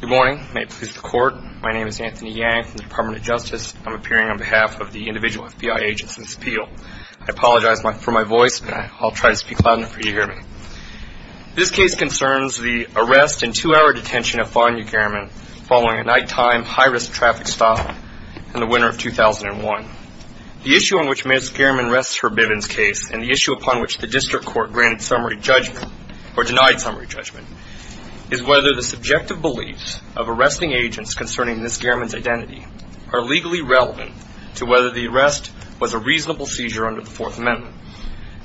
Good morning. May it please the Court. My name is Anthony Yang from the Department of Justice. I'm appearing on behalf of the individual FBI agents in this appeal. I apologize for my voice, but I'll try to speak loud enough for you to hear me. This case concerns the arrest and two-hour detention of Fania Gehrman following a nighttime high-risk traffic stop in the winter of 2001. The issue on which Ms. Gehrman rests her Bivens case and the issue upon which the District Court granted summary judgment, or denied summary judgment, is whether the subjective beliefs of arresting agents concerning Ms. Gehrman's identity are legally relevant to whether the arrest was a reasonable seizure under the Fourth Amendment.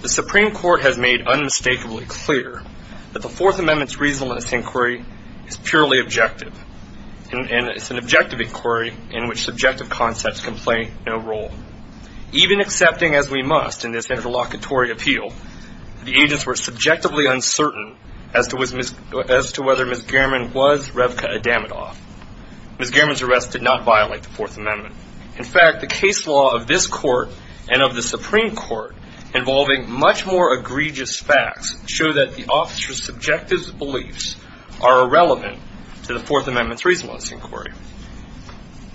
The Supreme Court has made unmistakably clear that the Fourth Amendment's reasonableness inquiry is purely objective, and it's an objective inquiry in which subjective concepts can play no role. Even accepting as we must in this interlocutory appeal that the agents were subjectively uncertain as to whether Ms. Gehrman was Revka Adamatoff, Ms. Gehrman's arrest did not violate the Fourth Amendment. In fact, the case law of this Court and of the Supreme Court involving much more egregious facts show that the officer's subjective beliefs are irrelevant to the Fourth Amendment's reasonableness inquiry.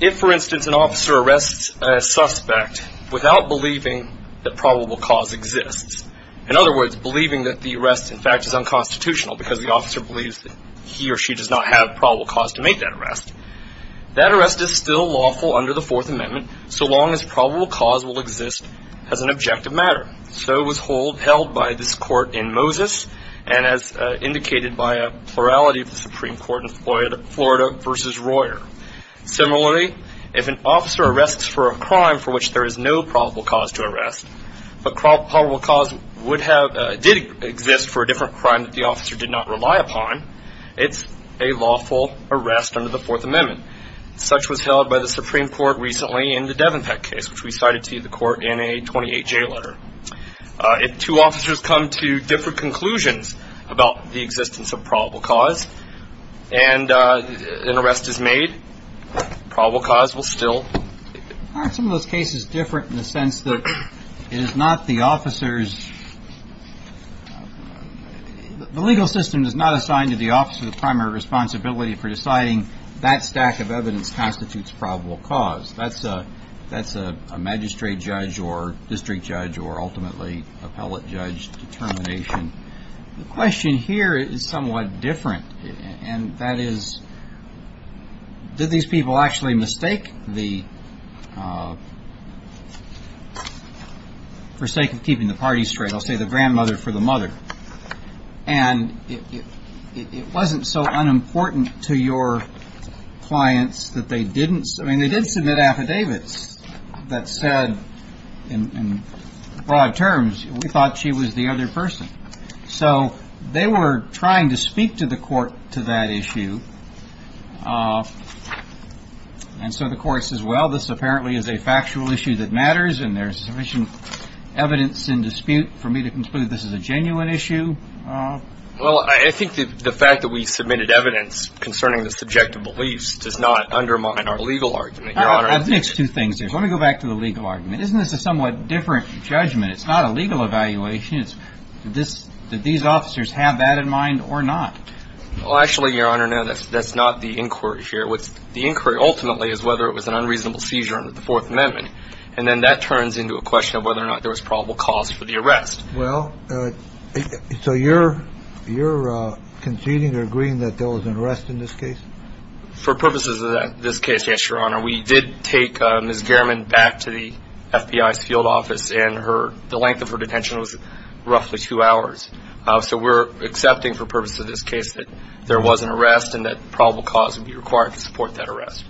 If, for instance, an officer arrests a suspect without believing that probable cause exists, in other words, believing that the arrest, in fact, is unconstitutional because the officer believes that he or she does not have probable cause to make that arrest, that arrest is still lawful under the Fourth Amendment so long as probable cause will exist as an objective matter. So it was held by this Court in Moses and as indicated by a plurality of the Supreme Court in Florida v. Royer. Similarly, if an officer arrests for a crime for which there is no probable cause to arrest but probable cause did exist for a different crime that the officer did not rely upon, it's a lawful arrest under the Fourth Amendment. Such was held by the Supreme Court recently in the Devenpeck case, which we cited to the Court in a 28-J letter. If two officers come to different conclusions about the existence of probable cause and an arrest is made, probable cause will still exist. Aren't some of those cases different in the sense that it is not the officer's – the legal system does not assign to the officer the primary responsibility for deciding that stack of evidence constitutes probable cause. That's a magistrate judge or district judge or ultimately appellate judge determination. The question here is somewhat different, and that is, did these people actually mistake the – for sake of keeping the party straight, I'll say the grandmother for the mother. And it wasn't so unimportant to your clients that they didn't – I mean, they did submit affidavits that said in broad terms, we thought she was the other person. So they were trying to speak to the Court to that issue, and so the Court says, well, this apparently is a factual issue that matters and there's sufficient evidence in dispute for me to conclude this is a genuine issue. Well, I think the fact that we submitted evidence concerning the subjective beliefs does not undermine our legal argument, Your Honor. Let me go back to the legal argument. Isn't this a somewhat different judgment? It's not a legal evaluation. Did these officers have that in mind or not? Well, actually, Your Honor, no, that's not the inquiry here. The inquiry ultimately is whether it was an unreasonable seizure under the Fourth Amendment, and then that turns into a question of whether or not there was probable cause for the arrest. Well, so you're conceding or agreeing that there was an arrest in this case? For purposes of this case, yes, Your Honor. We did take Ms. Gehrman back to the FBI's field office, and the length of her detention was roughly two hours. So we're accepting for purposes of this case that there was an arrest and that probable cause would be required to support that arrest.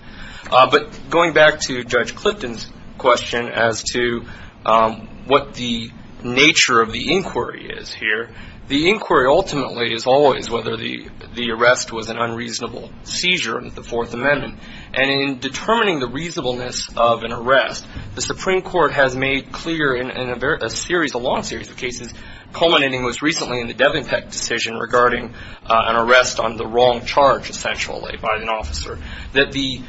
But going back to Judge Clifton's question as to what the nature of the inquiry is here, the inquiry ultimately is always whether the arrest was an unreasonable seizure under the Fourth Amendment. And in determining the reasonableness of an arrest, the Supreme Court has made clear in a series, a long series of cases, culminating most recently in the Devenpeck decision regarding an arrest on the wrong charge, essentially, by an officer, that the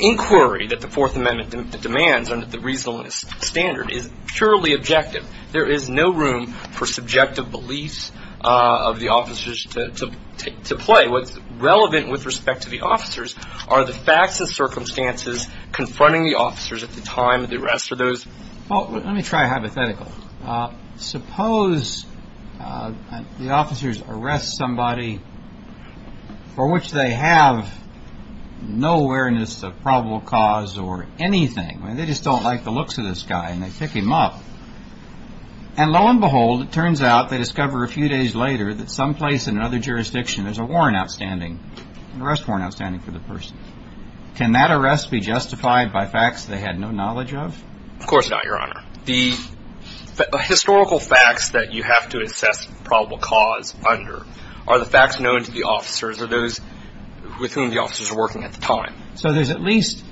inquiry that the Fourth Amendment demands under the reasonableness standard is purely objective. There is no room for subjective beliefs of the officers to play. What's relevant with respect to the officers are the facts and circumstances confronting the officers at the time of the arrest. Let me try a hypothetical. Suppose the officers arrest somebody for which they have no awareness of probable cause or anything. They just don't like the looks of this guy, and they pick him up. And lo and behold, it turns out they discover a few days later that someplace in another jurisdiction there's a warrant outstanding, an arrest warrant outstanding for the person. Can that arrest be justified by facts they had no knowledge of? Of course not, Your Honor. The historical facts that you have to assess probable cause under are the facts known to the officers, or those with whom the officers were working at the time. So there's at least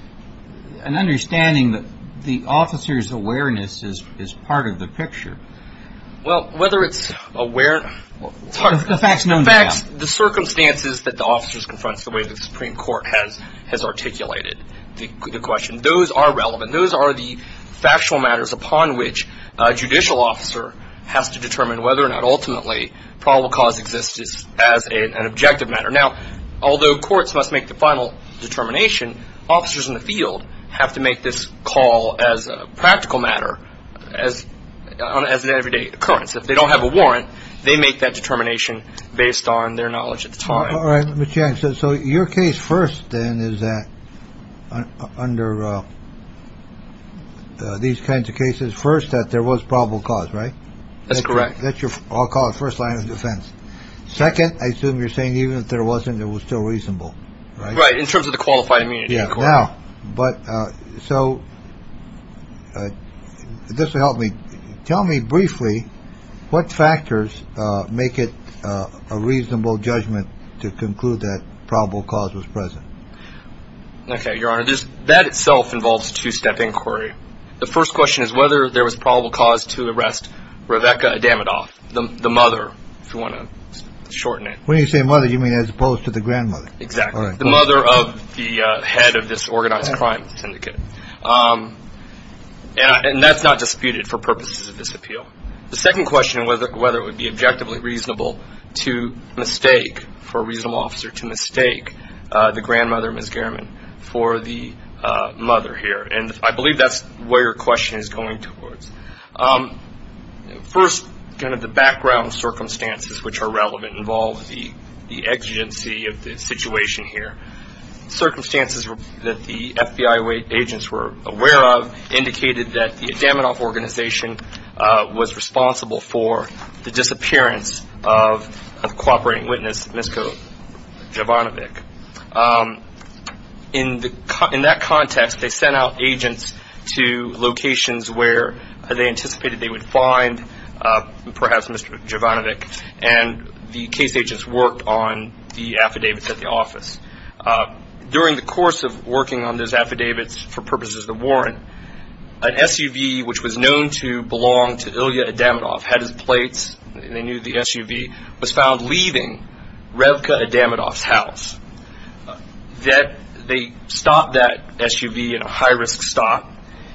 an understanding that the officers' awareness is part of the picture. Well, whether it's aware of the facts known to them. The circumstances that the officers confront is the way the Supreme Court has articulated the question. Those are relevant. Those are the factual matters upon which a judicial officer has to determine whether or not ultimately probable cause exists as an objective matter. Now, although courts must make the final determination, officers in the field have to make this call as a practical matter, as an everyday occurrence. If they don't have a warrant, they make that determination based on their knowledge at the time. So your case first, then, is that under these kinds of cases, first, that there was probable cause, right? That's correct. That's your first line of defense. Second, I assume you're saying even if there wasn't, it was still reasonable, right? Right, in terms of the qualified immunity. Yeah. Now, but so this will help me. Tell me briefly what factors make it a reasonable judgment to conclude that probable cause was present. Okay, Your Honor. That itself involves a two-step inquiry. The first question is whether there was probable cause to arrest Rebecca Adamatoff, the mother, if you want to shorten it. When you say mother, you mean as opposed to the grandmother. Exactly. The mother of the head of this organized crime syndicate. And that's not disputed for purposes of this appeal. The second question was whether it would be objectively reasonable to mistake, for a reasonable officer, to mistake the grandmother, Ms. Gehrman, for the mother here. And I believe that's where your question is going towards. First, kind of the background circumstances, which are relevant, involve the exigency of the situation here. Circumstances that the FBI agents were aware of indicated that the Adamatoff organization was responsible for the disappearance of a cooperating witness, Misko Jovanovich. In that context, they sent out agents to locations where they anticipated they would find perhaps Misko Jovanovich, and the case agents worked on the affidavits at the office. During the course of working on those affidavits for purposes of the warrant, an SUV, which was known to belong to Ilya Adamatoff, had his plates, they knew the SUV, was found leaving Revka Adamatoff's house. They stopped that SUV in a high-risk stop.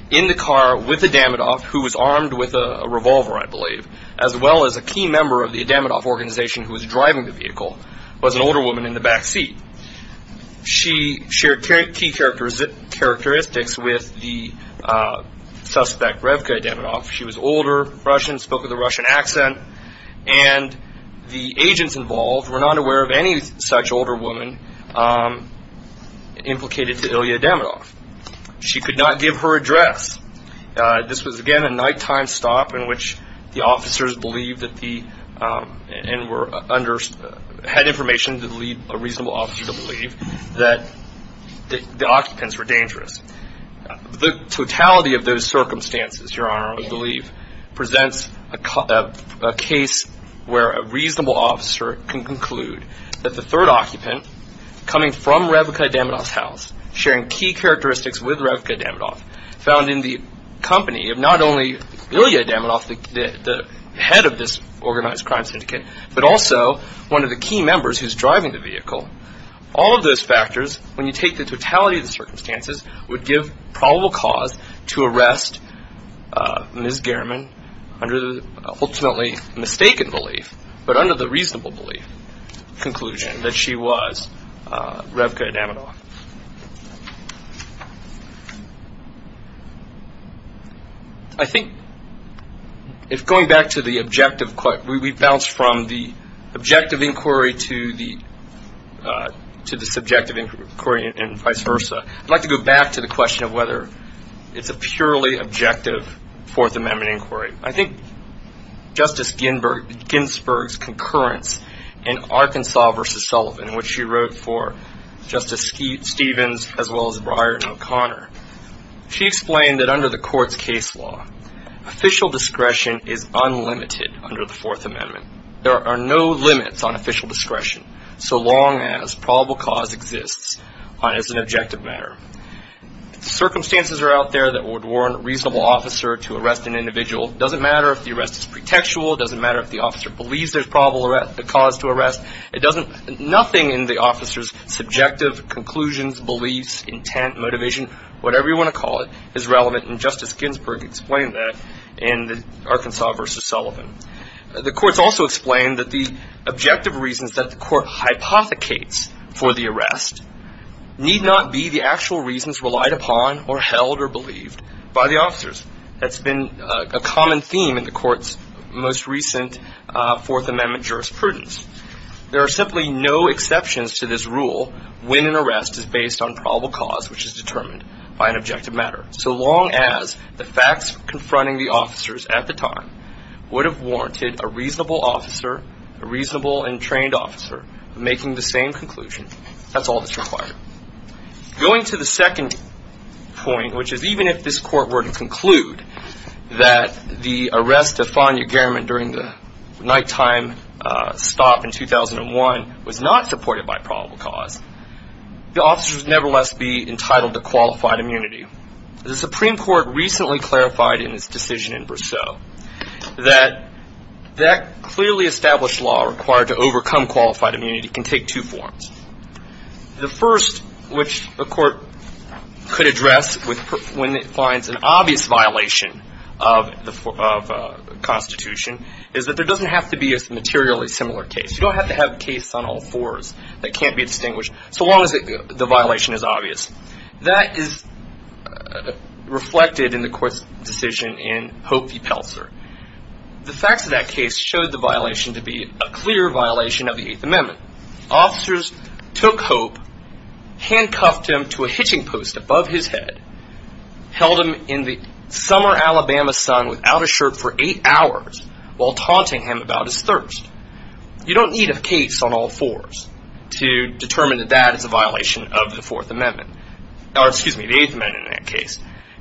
In the car with Adamatoff, who was armed with a revolver, I believe, as well as a key member of the Adamatoff organization who was driving the vehicle, was an older woman in the backseat. She shared key characteristics with the suspect, Revka Adamatoff. She was older, Russian, spoke with a Russian accent, and the agents involved were not aware of any such older woman implicated to Ilya Adamatoff. She could not give her address. This was, again, a nighttime stop in which the officers believed that the and had information to lead a reasonable officer to believe that the occupants were dangerous. The totality of those circumstances, Your Honor, I believe, presents a case where a reasonable officer can conclude that the third occupant, coming from Revka Adamatoff's house, sharing key characteristics with Revka Adamatoff, found in the company of not only Ilya Adamatoff, the head of this organized crime syndicate, but also one of the key members who's driving the vehicle. All of those factors, when you take the totality of the circumstances, would give probable cause to arrest Ms. Gehrman under the ultimately mistaken belief, but under the reasonable belief, conclusion that she was Revka Adamatoff. I think if going back to the objective, we bounce from the objective inquiry to the subjective inquiry and vice versa. I'd like to go back to the question of whether it's a purely objective Fourth Amendment inquiry. I think Justice Ginsburg's concurrence in Arkansas v. Sullivan, which she wrote for Justice Stevens as well as Breyer and O'Connor, she explained that under the court's case law, official discretion is unlimited under the Fourth Amendment. There are no limits on official discretion so long as probable cause exists as an objective matter. Circumstances are out there that would warrant a reasonable officer to arrest an individual. It doesn't matter if the arrest is pretextual. It doesn't matter if the officer believes there's probable cause to arrest. Nothing in the officer's subjective conclusions, beliefs, intent, motivation, whatever you want to call it, is relevant. Justice Ginsburg explained that in the Arkansas v. Sullivan. The courts also explained that the objective reasons that the court hypothecates for the arrest need not be the actual reasons relied upon or held or believed by the officers. That's been a common theme in the court's most recent Fourth Amendment jurisprudence. There are simply no exceptions to this rule when an arrest is based on probable cause, which is determined by an objective matter. So long as the facts confronting the officers at the time would have warranted a reasonable officer, a reasonable and trained officer, making the same conclusion, that's all that's required. Going to the second point, which is even if this court were to conclude that the arrest of Fania Gehrman during the nighttime stop in 2001 was not supported by probable cause, the officers would nevertheless be entitled to qualified immunity. The Supreme Court recently clarified in its decision in Brasseau that that clearly established law required to overcome qualified immunity can take two forms. The first, which the court could address when it finds an obvious violation of the Constitution, is that there doesn't have to be a materially similar case. You don't have to have cases on all fours that can't be distinguished so long as the violation is obvious. That is reflected in the court's decision in Hope v. Pelser. The facts of that case showed the violation to be a clear violation of the Eighth Amendment. Officers took Hope, handcuffed him to a hitching post above his head, held him in the summer Alabama sun without a shirt for eight hours while taunting him about his thirst. You don't need a case on all fours to determine that that is a violation of the Eighth Amendment.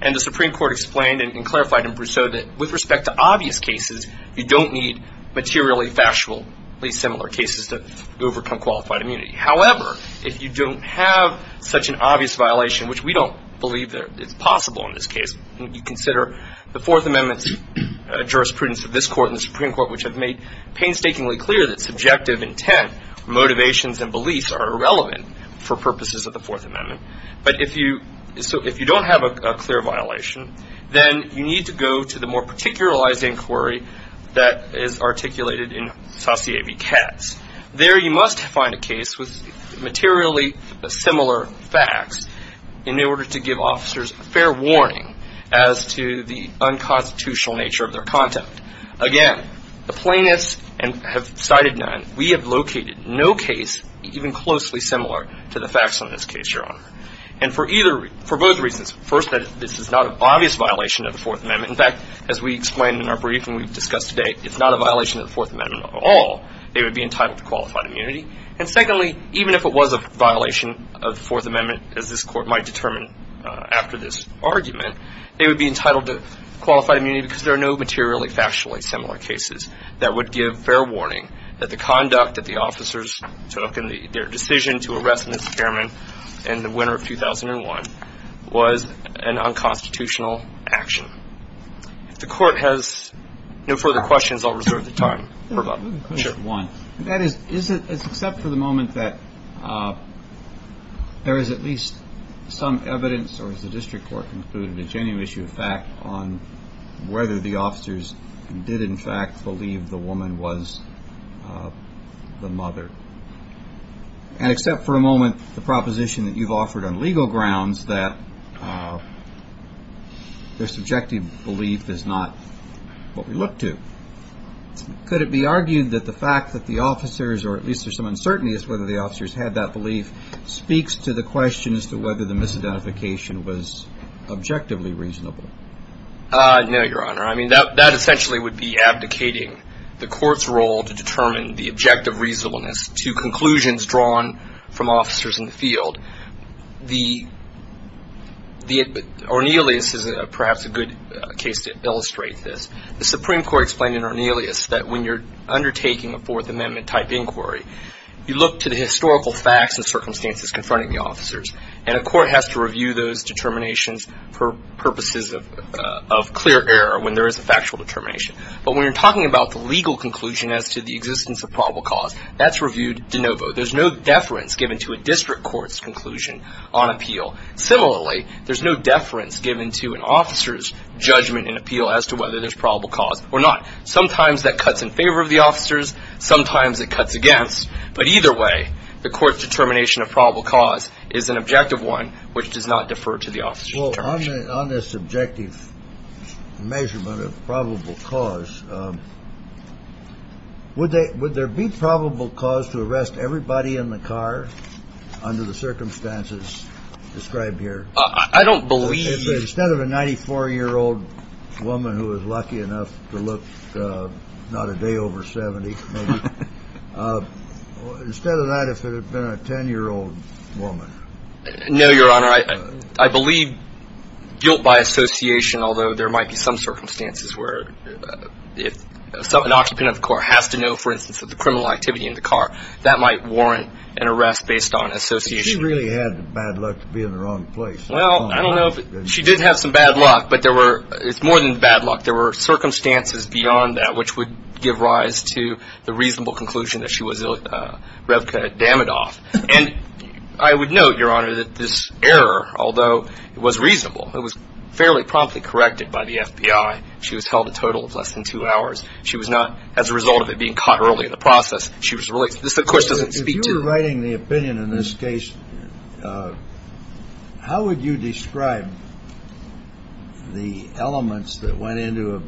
And the Supreme Court explained and clarified in Brasseau that with respect to obvious cases, you don't need materially factually similar cases to overcome qualified immunity. However, if you don't have such an obvious violation, which we don't believe is possible in this case, you consider the Fourth Amendment's jurisprudence of this court and the Supreme Court, which have made painstakingly clear that subjective intent, motivations, and beliefs are irrelevant for purposes of the Fourth Amendment. So if you don't have a clear violation, then you need to go to the more particularized inquiry that is articulated in Saussie v. Katz. There you must find a case with materially similar facts in order to give officers fair warning as to the unconstitutional nature of their conduct. Again, the plaintiffs have cited none. We have located no case even closely similar to the facts on this case, Your Honor. And for both reasons, first, that this is not an obvious violation of the Fourth Amendment. In fact, as we explained in our briefing we've discussed today, it's not a violation of the Fourth Amendment at all. They would be entitled to qualified immunity. And secondly, even if it was a violation of the Fourth Amendment, as this court might determine after this argument, they would be entitled to qualified immunity because there are no materially factually similar cases that would give fair warning that the conduct that the officers took in their decision to arrest Mr. Cameron in the winter of 2001 was an unconstitutional action. If the court has no further questions, I'll reserve the time for them. One, is it except for the moment that there is at least some evidence, or as the district court concluded, a genuine issue of fact, on whether the officers did in fact believe the woman was the mother? And except for a moment, the proposition that you've offered on legal grounds that their subjective belief is not what we look to. Could it be argued that the fact that the officers, or at least there's some uncertainty as to whether the officers had that belief, speaks to the question as to whether the misidentification was objectively reasonable? No, Your Honor. I mean, that essentially would be abdicating the court's role to determine the objective reasonableness to conclusions drawn from officers in the field. Ornelas is perhaps a good case to illustrate this. The Supreme Court explained in Ornelas that when you're undertaking a Fourth Amendment type inquiry, you look to the historical facts and circumstances confronting the officers. And a court has to review those determinations for purposes of clear error when there is a factual determination. But when you're talking about the legal conclusion as to the existence of probable cause, that's reviewed de novo. There's no deference given to a district court's conclusion on appeal. Similarly, there's no deference given to an officer's judgment and appeal as to whether there's probable cause or not. Sometimes that cuts in favor of the officers. Sometimes it cuts against. But either way, the court's determination of probable cause is an objective one, which does not defer to the officer's determination. Well, on this objective measurement of probable cause, would there be probable cause to arrest everybody in the car under the circumstances described here? I don't believe. Instead of a 94-year-old woman who was lucky enough to look not a day over 70, instead of that, if it had been a 10-year-old woman. No, Your Honor. I believe guilt by association, although there might be some circumstances where if an occupant of the court has to know, for instance, of the criminal activity in the car, that might warrant an arrest based on association. She really had bad luck to be in the wrong place. Well, I don't know if she did have some bad luck, but it's more than bad luck. There were circumstances beyond that which would give rise to the reasonable conclusion that she was Revka Damidoff. And I would note, Your Honor, that this error, although it was reasonable, it was fairly promptly corrected by the FBI. She was held a total of less than two hours. She was not, as a result of it being caught early in the process, she was released. This, of course, doesn't speak to you. If you're writing the opinion in this case, how would you describe the elements that went into an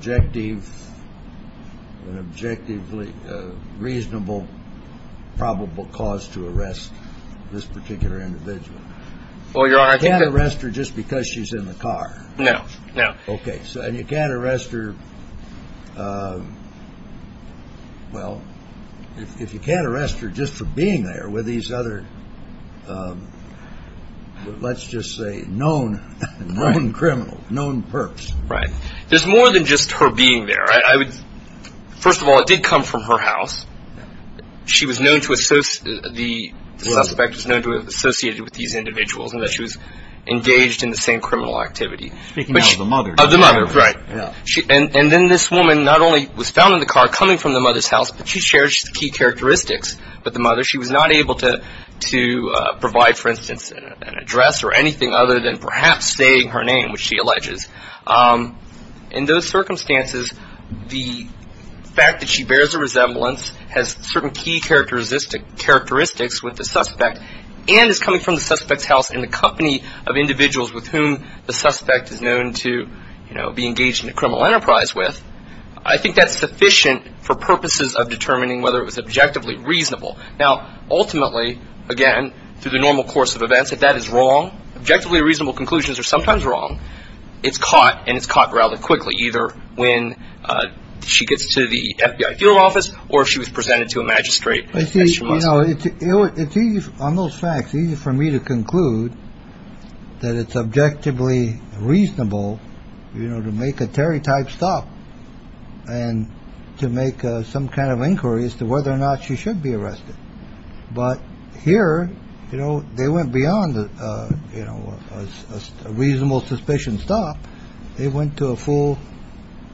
objectively reasonable, probable cause to arrest this particular individual? Well, Your Honor, I think that... You can't arrest her just because she's in the car. No, no. Okay. And you can't arrest her, well, if you can't arrest her just for being there with these other, let's just say, known criminals, known perps. Right. There's more than just her being there. First of all, it did come from her house. The suspect was known to have associated with these individuals and that she was engaged in the same criminal activity. Speaking now of the mother. Of the mother, right. And then this woman not only was found in the car coming from the mother's house, but she shares key characteristics with the mother. She was not able to provide, for instance, an address or anything other than perhaps saying her name, which she alleges. In those circumstances, the fact that she bears a resemblance, has certain key characteristics with the suspect, and is coming from the suspect's house in the company of individuals with whom the suspect is known to be engaged in a criminal enterprise with, I think that's sufficient for purposes of determining whether it was objectively reasonable. Now, ultimately, again, through the normal course of events, if that is wrong, objectively reasonable conclusions are sometimes wrong. It's caught, and it's caught rather quickly, either when she gets to the FBI field office or if she was presented to a magistrate. It's easy on those facts, easy for me to conclude that it's objectively reasonable, you know, to make a Terry type stop and to make some kind of inquiry as to whether or not she should be arrested. But here, you know, they went beyond, you know, a reasonable suspicion stop. They went to a full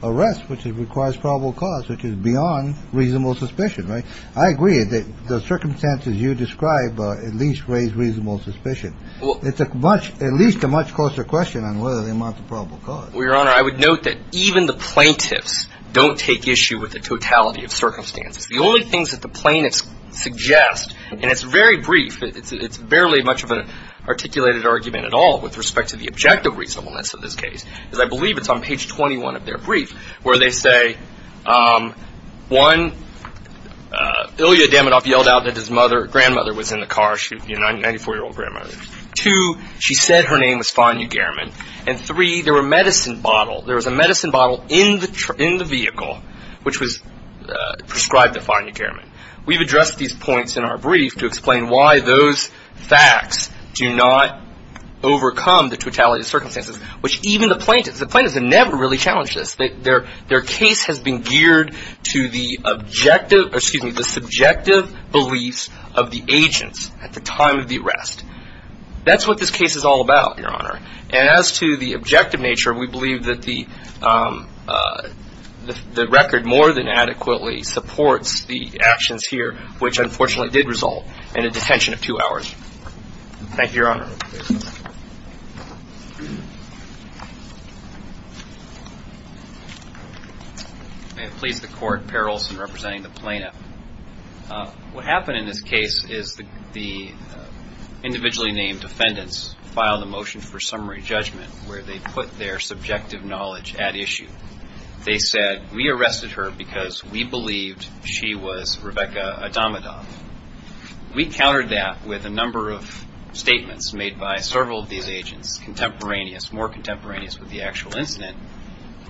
arrest, which requires probable cause, which is beyond reasonable suspicion. I agree that the circumstances you describe at least raise reasonable suspicion. It's at least a much closer question on whether they amount to probable cause. Well, Your Honor, I would note that even the plaintiffs don't take issue with the totality of circumstances. The only things that the plaintiffs suggest, and it's very brief, it's barely much of an articulated argument at all with respect to the objective reasonableness of this case, is I believe it's on page 21 of their brief where they say, one, Ilya Damidoff yelled out that his mother, grandmother was in the car, you know, 94-year-old grandmother. Two, she said her name was Fania Gehrman. And three, there were medicine bottle, there was a medicine bottle in the vehicle which was prescribed to Fania Gehrman. We've addressed these points in our brief to explain why those facts do not overcome the totality of circumstances, which even the plaintiffs, the plaintiffs have never really challenged this. Their case has been geared to the subjective beliefs of the agents at the time of the arrest. That's what this case is all about, Your Honor. And as to the objective nature, we believe that the record more than adequately supports the actions here, which unfortunately did result in a detention of two hours. Thank you, Your Honor. Your Honor, please. May it please the Court, Per Olson representing the plaintiff. What happened in this case is the individually named defendants filed a motion for summary judgment where they put their subjective knowledge at issue. They said, we arrested her because we believed she was Rebecca Damidoff. We countered that with a number of statements made by several of these agents, contemporaneous, more contemporaneous with the actual incident,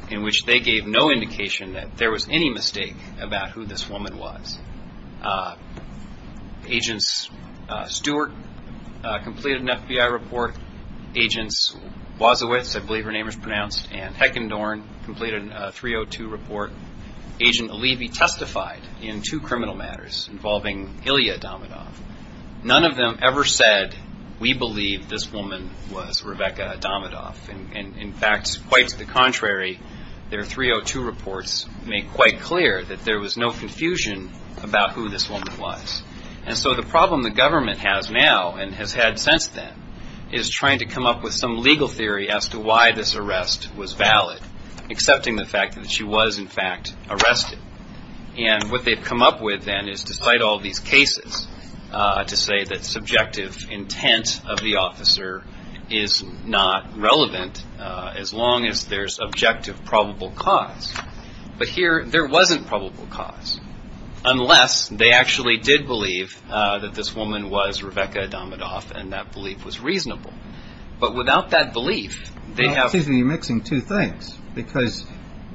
in which they gave no indication that there was any mistake about who this woman was. Agent Stewart completed an FBI report. Agent Wozowicz, I believe her name is pronounced, and Heckendorn completed a 302 report. Agent Allevy testified in two criminal matters involving Ilya Damidoff. None of them ever said, we believe this woman was Rebecca Damidoff. In fact, quite to the contrary, their 302 reports make quite clear that there was no confusion about who this woman was. And so the problem the government has now and has had since then is trying to come up with some legal theory as to why this arrest was valid, accepting the fact that she was, in fact, arrested. And what they've come up with then is, despite all these cases, to say that subjective intent of the officer is not relevant as long as there's objective probable cause. But here, there wasn't probable cause, unless they actually did believe that this woman was Rebecca Damidoff and that belief was reasonable. But without that belief, they have- It seems to me you're mixing two things, because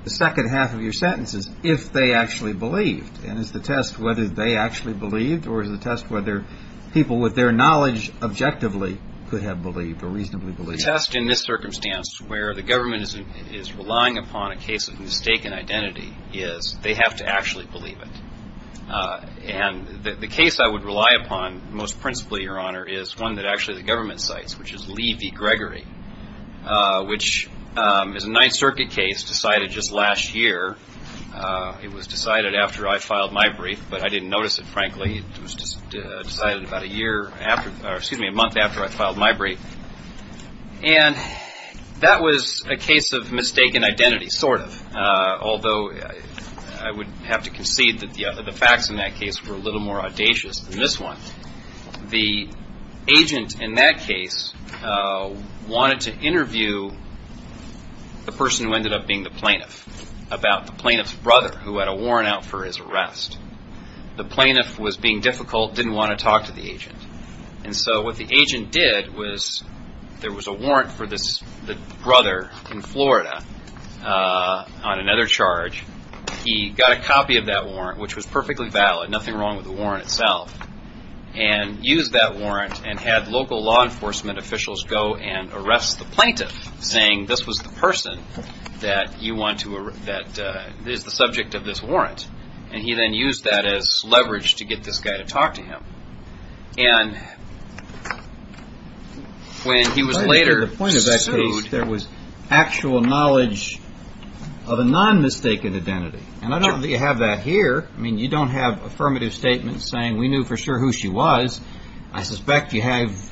the second half of your sentence is, if they actually believed. And is the test whether they actually believed, or is the test whether people with their knowledge objectively could have believed or reasonably believed? The test in this circumstance, where the government is relying upon a case of mistaken identity, is they have to actually believe it. The other example here is one that actually the government cites, which is Lee v. Gregory, which is a Ninth Circuit case decided just last year. It was decided after I filed my brief, but I didn't notice it, frankly. It was decided about a month after I filed my brief. And that was a case of mistaken identity, sort of, although I would have to concede that the facts in that case were a little more audacious than this one. The agent in that case wanted to interview the person who ended up being the plaintiff about the plaintiff's brother, who had a warrant out for his arrest. The plaintiff was being difficult, didn't want to talk to the agent. And so what the agent did was, there was a warrant for the brother in Florida on another charge. He got a copy of that warrant, which was perfectly valid, nothing wrong with the warrant itself, and used that warrant and had local law enforcement officials go and arrest the plaintiff, saying this was the person that is the subject of this warrant. And he then used that as leverage to get this guy to talk to him. And when he was later sued... At the point of that case, there was actual knowledge of a non-mistaken identity. And I don't think you have that here. I mean, you don't have affirmative statements saying, we knew for sure who she was. I suspect you have...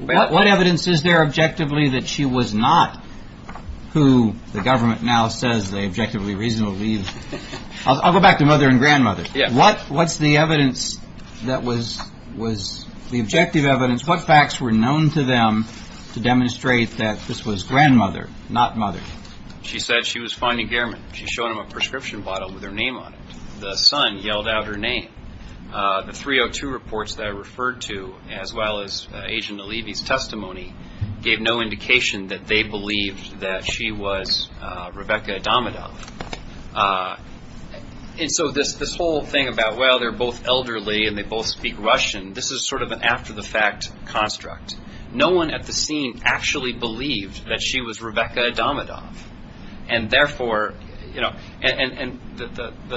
What evidence is there objectively that she was not who the government now says they objectively reasonably believe? I'll go back to mother and grandmother. What's the evidence that was the objective evidence? What facts were known to them to demonstrate that this was grandmother, not mother? She said she was finding gearment. She showed him a prescription bottle with her name on it. The son yelled out her name. The 302 reports that I referred to, as well as Agent Nalibi's testimony, gave no indication that they believed that she was Rebecca Adamidoff. And so this whole thing about, well, they're both elderly and they both speak Russian, this is sort of an after-the-fact construct. No one at the scene actually believed that she was Rebecca Adamidoff. And the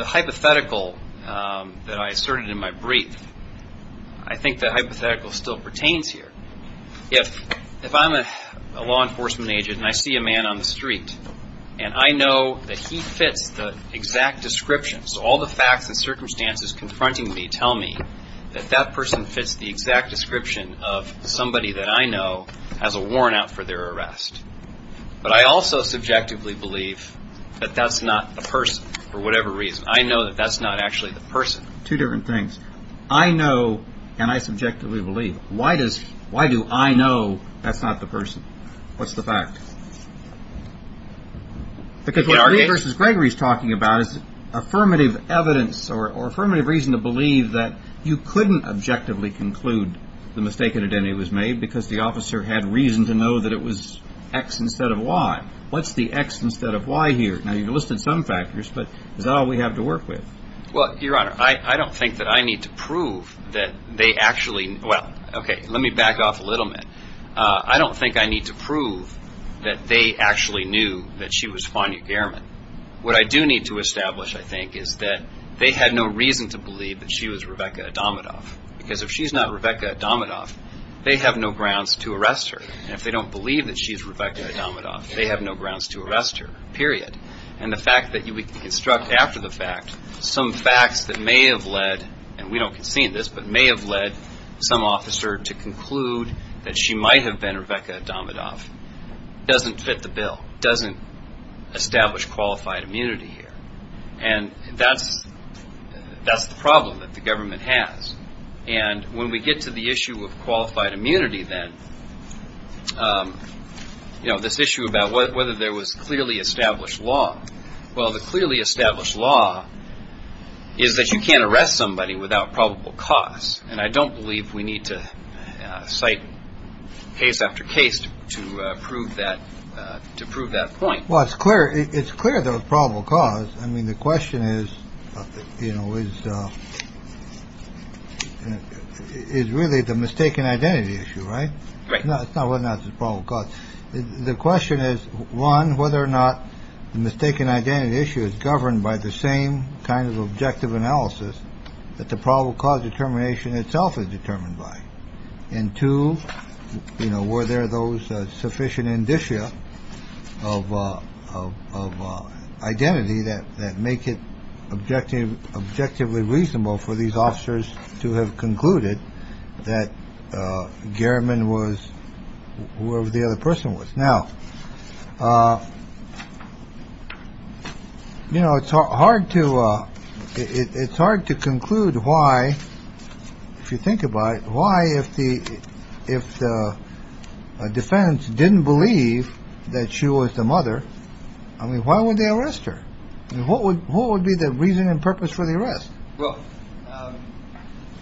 hypothetical that I asserted in my brief, I think the hypothetical still pertains here. If I'm a law enforcement agent and I see a man on the street and I know that he fits the exact descriptions, all the facts and circumstances confronting me tell me that that person fits the exact description of somebody that I know as a worn-out for their arrest. But I also subjectively believe that that's not the person for whatever reason. I know that that's not actually the person. Two different things. I know and I subjectively believe. Why do I know that's not the person? What's the fact? Because what Lee versus Gregory is talking about is affirmative evidence or affirmative reason to believe that you couldn't objectively conclude the mistaken identity was made because the officer had reason to know that it was X instead of Y. What's the X instead of Y here? Now, you've listed some factors, but is that all we have to work with? Well, Your Honor, I don't think that I need to prove that they actually – well, okay, let me back off a little bit. I don't think I need to prove that they actually knew that she was Fania Gehrman. What I do need to establish, I think, is that they had no reason to believe that she was Rebecca Adamidoff because if she's not Rebecca Adamidoff, they have no grounds to arrest her. And if they don't believe that she's Rebecca Adamidoff, they have no grounds to arrest her, period. And the fact that you would construct after the fact some facts that may have led – and we don't concede this – but may have led some officer to conclude that she might have been Rebecca Adamidoff doesn't fit the bill, doesn't establish qualified immunity here. And that's the problem that the government has. And when we get to the issue of qualified immunity then, this issue about whether there was clearly established law, well, the clearly established law is that you can't arrest somebody without probable cause. And I don't believe we need to cite case after case to prove that point. Well, it's clear – it's clear there was probable cause. I mean, the question is, you know, is really the mistaken identity issue, right? Right. It's not whether or not it's probable cause. The question is, one, whether or not the mistaken identity issue is governed by the same kind of objective analysis that the probable cause determination itself is determined by. And two, you know, were there those sufficient indicia of identity that make it objective, objectively reasonable for these officers to have concluded that Garamond was whoever the other person was. Now, you know, it's hard to it's hard to conclude why. If you think about it, why if the defense didn't believe that she was the mother, I mean, why would they arrest her? What would be the reason and purpose for the arrest? Well,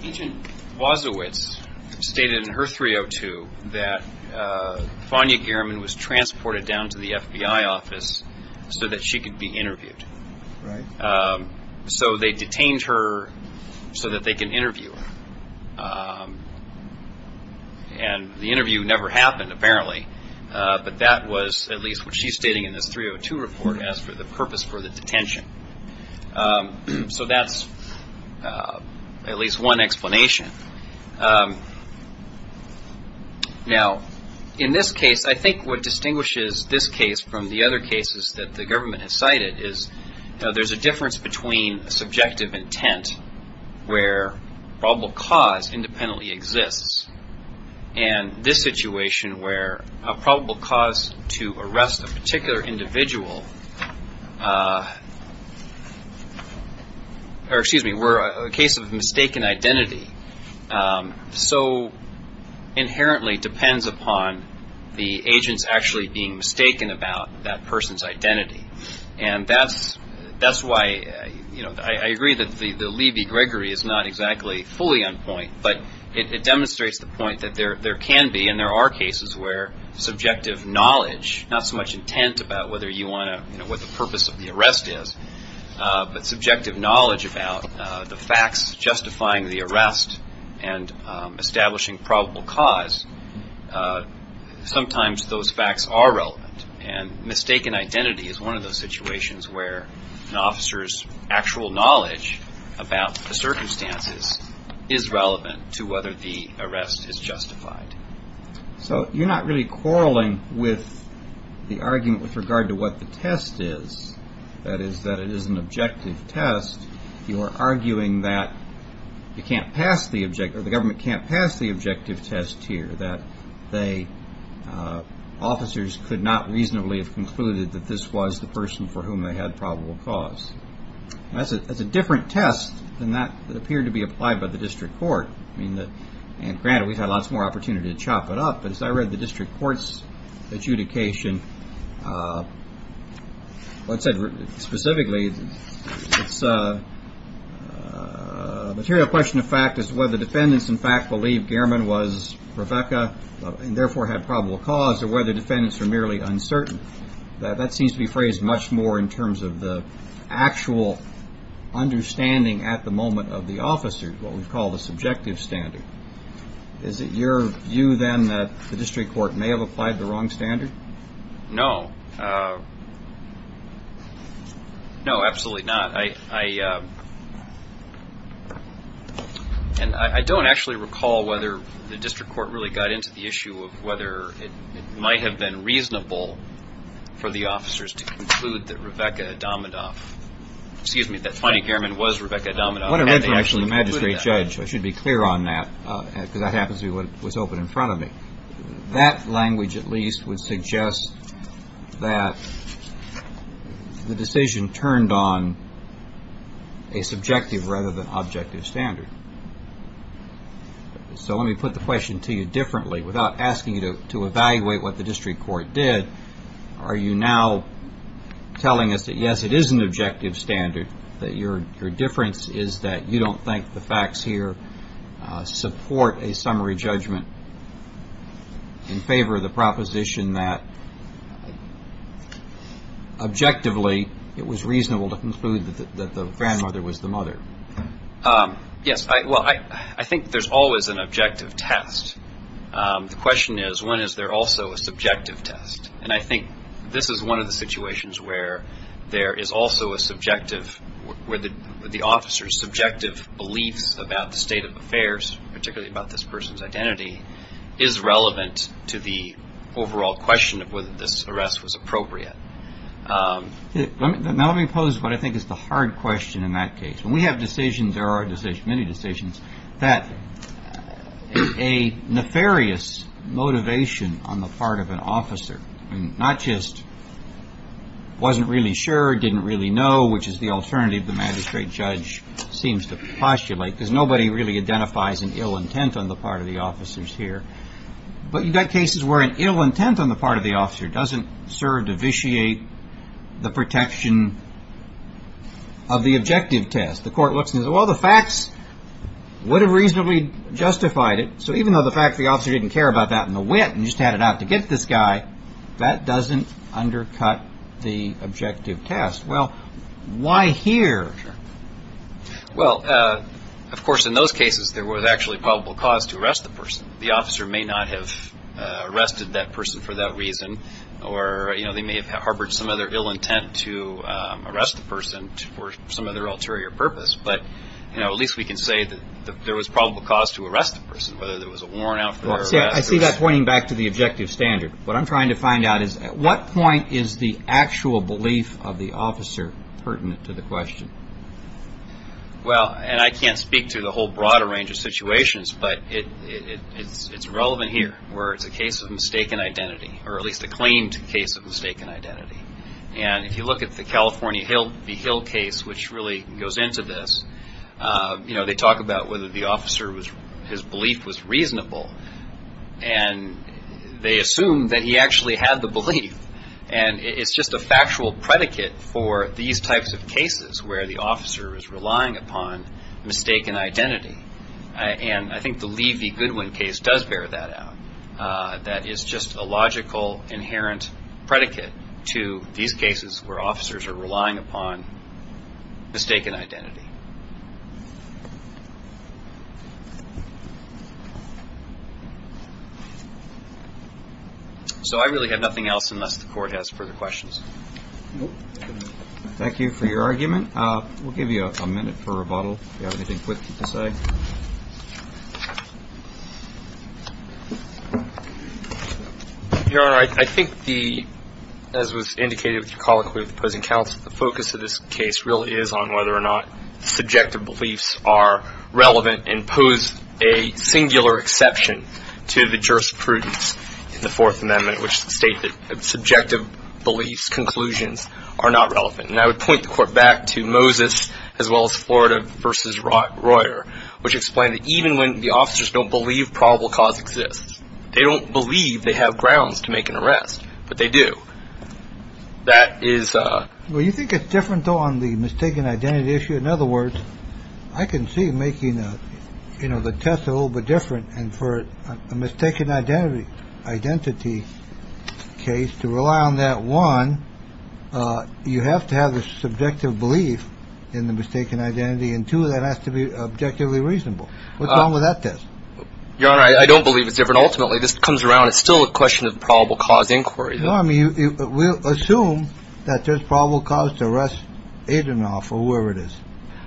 Agent Wozowicz stated in her 302 that Fania Garamond was transported down to the FBI office so that she could be interviewed. Right. So they detained her so that they can interview her. And the interview never happened, apparently. But that was at least what she's stating in this 302 report as for the purpose for the detention. So that's at least one explanation. Now, in this case, I think what distinguishes this case from the other cases that the government has cited is, you know, there's a difference between subjective intent where probable cause independently exists and this situation where a probable cause to arrest a particular individual or excuse me, where a case of mistaken identity so inherently depends upon the agents actually being mistaken about that person's identity. And that's why, you know, I agree that the Levy-Gregory is not exactly fully on point, but it demonstrates the point that there can be and there are cases where subjective knowledge, not so much intent about whether you want to know what the purpose of the arrest is, but subjective knowledge about the facts justifying the arrest and establishing probable cause, sometimes those facts are relevant. And mistaken identity is one of those situations where an officer's actual knowledge about the circumstances is relevant to whether the arrest is justified. So you're not really quarreling with the argument with regard to what the test is, that is, that it is an objective test. You are arguing that the government can't pass the objective test here, that officers could not reasonably have concluded that this was the person for whom they had probable cause. That's a different test than that that appeared to be applied by the district court. And granted, we've had lots more opportunity to chop it up, but as I read the district court's adjudication, what it said specifically, it's a material question of fact is whether defendants in fact believe Gehrman was Rebecca and therefore had probable cause or whether defendants are merely uncertain. That seems to be phrased much more in terms of the actual understanding at the moment of the officer, what we call the subjective standard. Is it your view, then, that the district court may have applied the wrong standard? No. No, absolutely not. And I don't actually recall whether the district court really got into the issue of whether it might have been reasonable for the officers to conclude that Rebecca Adamadoff, excuse me, that Fannie Gehrman was Rebecca Adamadoff. What I read from the magistrate judge, I should be clear on that, because that happens to be what was open in front of me. That language at least would suggest that the decision turned on a subjective rather than objective standard. So let me put the question to you differently. Without asking you to evaluate what the district court did, are you now telling us that, yes, it is an objective standard, that your difference is that you don't think the facts here support a summary judgment in favor of the proposition that, objectively, it was reasonable to conclude that the grandmother was the mother? Yes. Well, I think there's always an objective test. The question is, when is there also a subjective test? And I think this is one of the situations where there is also a subjective, where the officer's subjective beliefs about the state of affairs, particularly about this person's identity, is relevant to the overall question of whether this arrest was appropriate. Now let me pose what I think is the hard question in that case. When we have decisions, there are many decisions, that a nefarious motivation on the part of an officer, not just wasn't really sure, didn't really know, which is the alternative the magistrate judge seems to postulate, because nobody really identifies an ill intent on the part of the officers here. But you've got cases where an ill intent on the part of the officer doesn't serve to vitiate the protection of the objective test. The court looks and says, well, the facts would have reasonably justified it, so even though the fact the officer didn't care about that in the wit and just had it out to get this guy, that doesn't undercut the objective test. Well, why here? Well, of course, in those cases, there was actually probable cause to arrest the person. The officer may not have arrested that person for that reason, or they may have harbored some other ill intent to arrest the person for some other ulterior purpose. But at least we can say that there was probable cause to arrest the person, whether there was a warrant out for the arrest. I see that pointing back to the objective standard. What I'm trying to find out is at what point is the actual belief of the officer pertinent to the question? Well, and I can't speak to the whole broader range of situations, but it's relevant here where it's a case of mistaken identity, or at least a claimed case of mistaken identity. And if you look at the California Hill case, which really goes into this, they talk about whether the officer, his belief was reasonable, and they assume that he actually had the belief. And it's just a factual predicate for these types of cases where the officer is relying upon mistaken identity. And I think the Levy-Goodwin case does bear that out. That is just a logical, inherent predicate to these cases where officers are relying upon mistaken identity. So I really have nothing else unless the court has further questions. Thank you for your argument. We'll give you a minute for rebuttal, if you have anything quick to say. Your Honor, I think the, as was indicated with your colloquy with the opposing counsel, the focus of this case really is on whether or not subjective beliefs are relevant and pose a singular exception to the jurisprudence in the Fourth Amendment, which states that subjective beliefs, conclusions are not relevant. And I would point the court back to Moses as well as Florida versus Royer, which explained that even when the officers don't believe probable cause exists, they don't believe they have grounds to make an arrest. But they do. That is. Well, you think it's different on the mistaken identity issue. In other words, I can see making the test a little bit different. And for a mistaken identity case, to rely on that, one, you have to have the subjective belief in the mistaken identity, and two, that has to be objectively reasonable. What's wrong with that test? Your Honor, I don't believe it's different. Ultimately, this comes around, it's still a question of probable cause inquiry. No, I mean, we'll assume that there's probable cause to arrest Adanoff or whoever it is,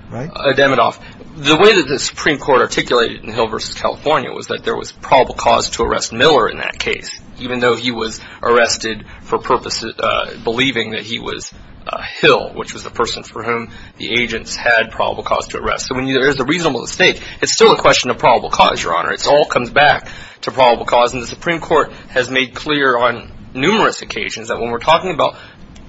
right? The way that the Supreme Court articulated in Hill versus California was that there was probable cause to arrest Miller in that case, even though he was arrested for believing that he was Hill, which was the person for whom the agents had probable cause to arrest. So when there's a reasonable mistake, it's still a question of probable cause, Your Honor. It all comes back to probable cause. And the Supreme Court has made clear on numerous occasions that when we're talking about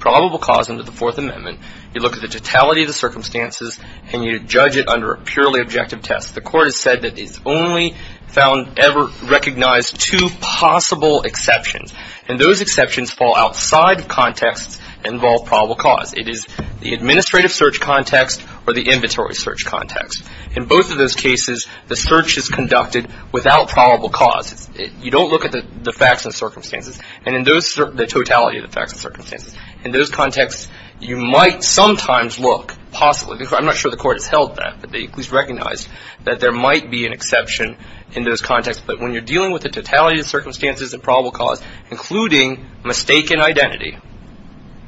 probable cause under the Fourth Amendment, you look at the totality of the circumstances and you judge it under a purely objective test. The Court has said that it's only found ever recognized two possible exceptions, and those exceptions fall outside of contexts that involve probable cause. It is the administrative search context or the inventory search context. In both of those cases, the search is conducted without probable cause. You don't look at the facts and circumstances, and in those, the totality of the facts and circumstances. In those contexts, you might sometimes look, possibly, because I'm not sure the Court has held that, but they at least recognize that there might be an exception in those contexts. But when you're dealing with the totality of the circumstances and probable cause, including mistaken identity,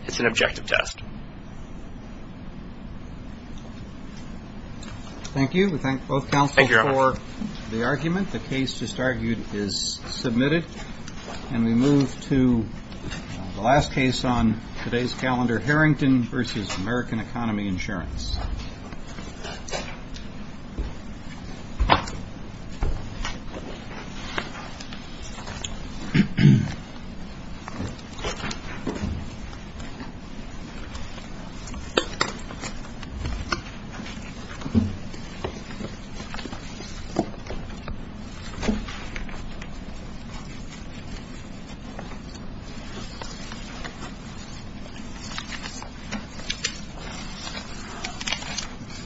it's an objective test. Thank you. We thank both counsels for the argument. The case just argued is submitted. And we move to the last case on today's calendar, Harrington v. American Economy Insurance. Thank you.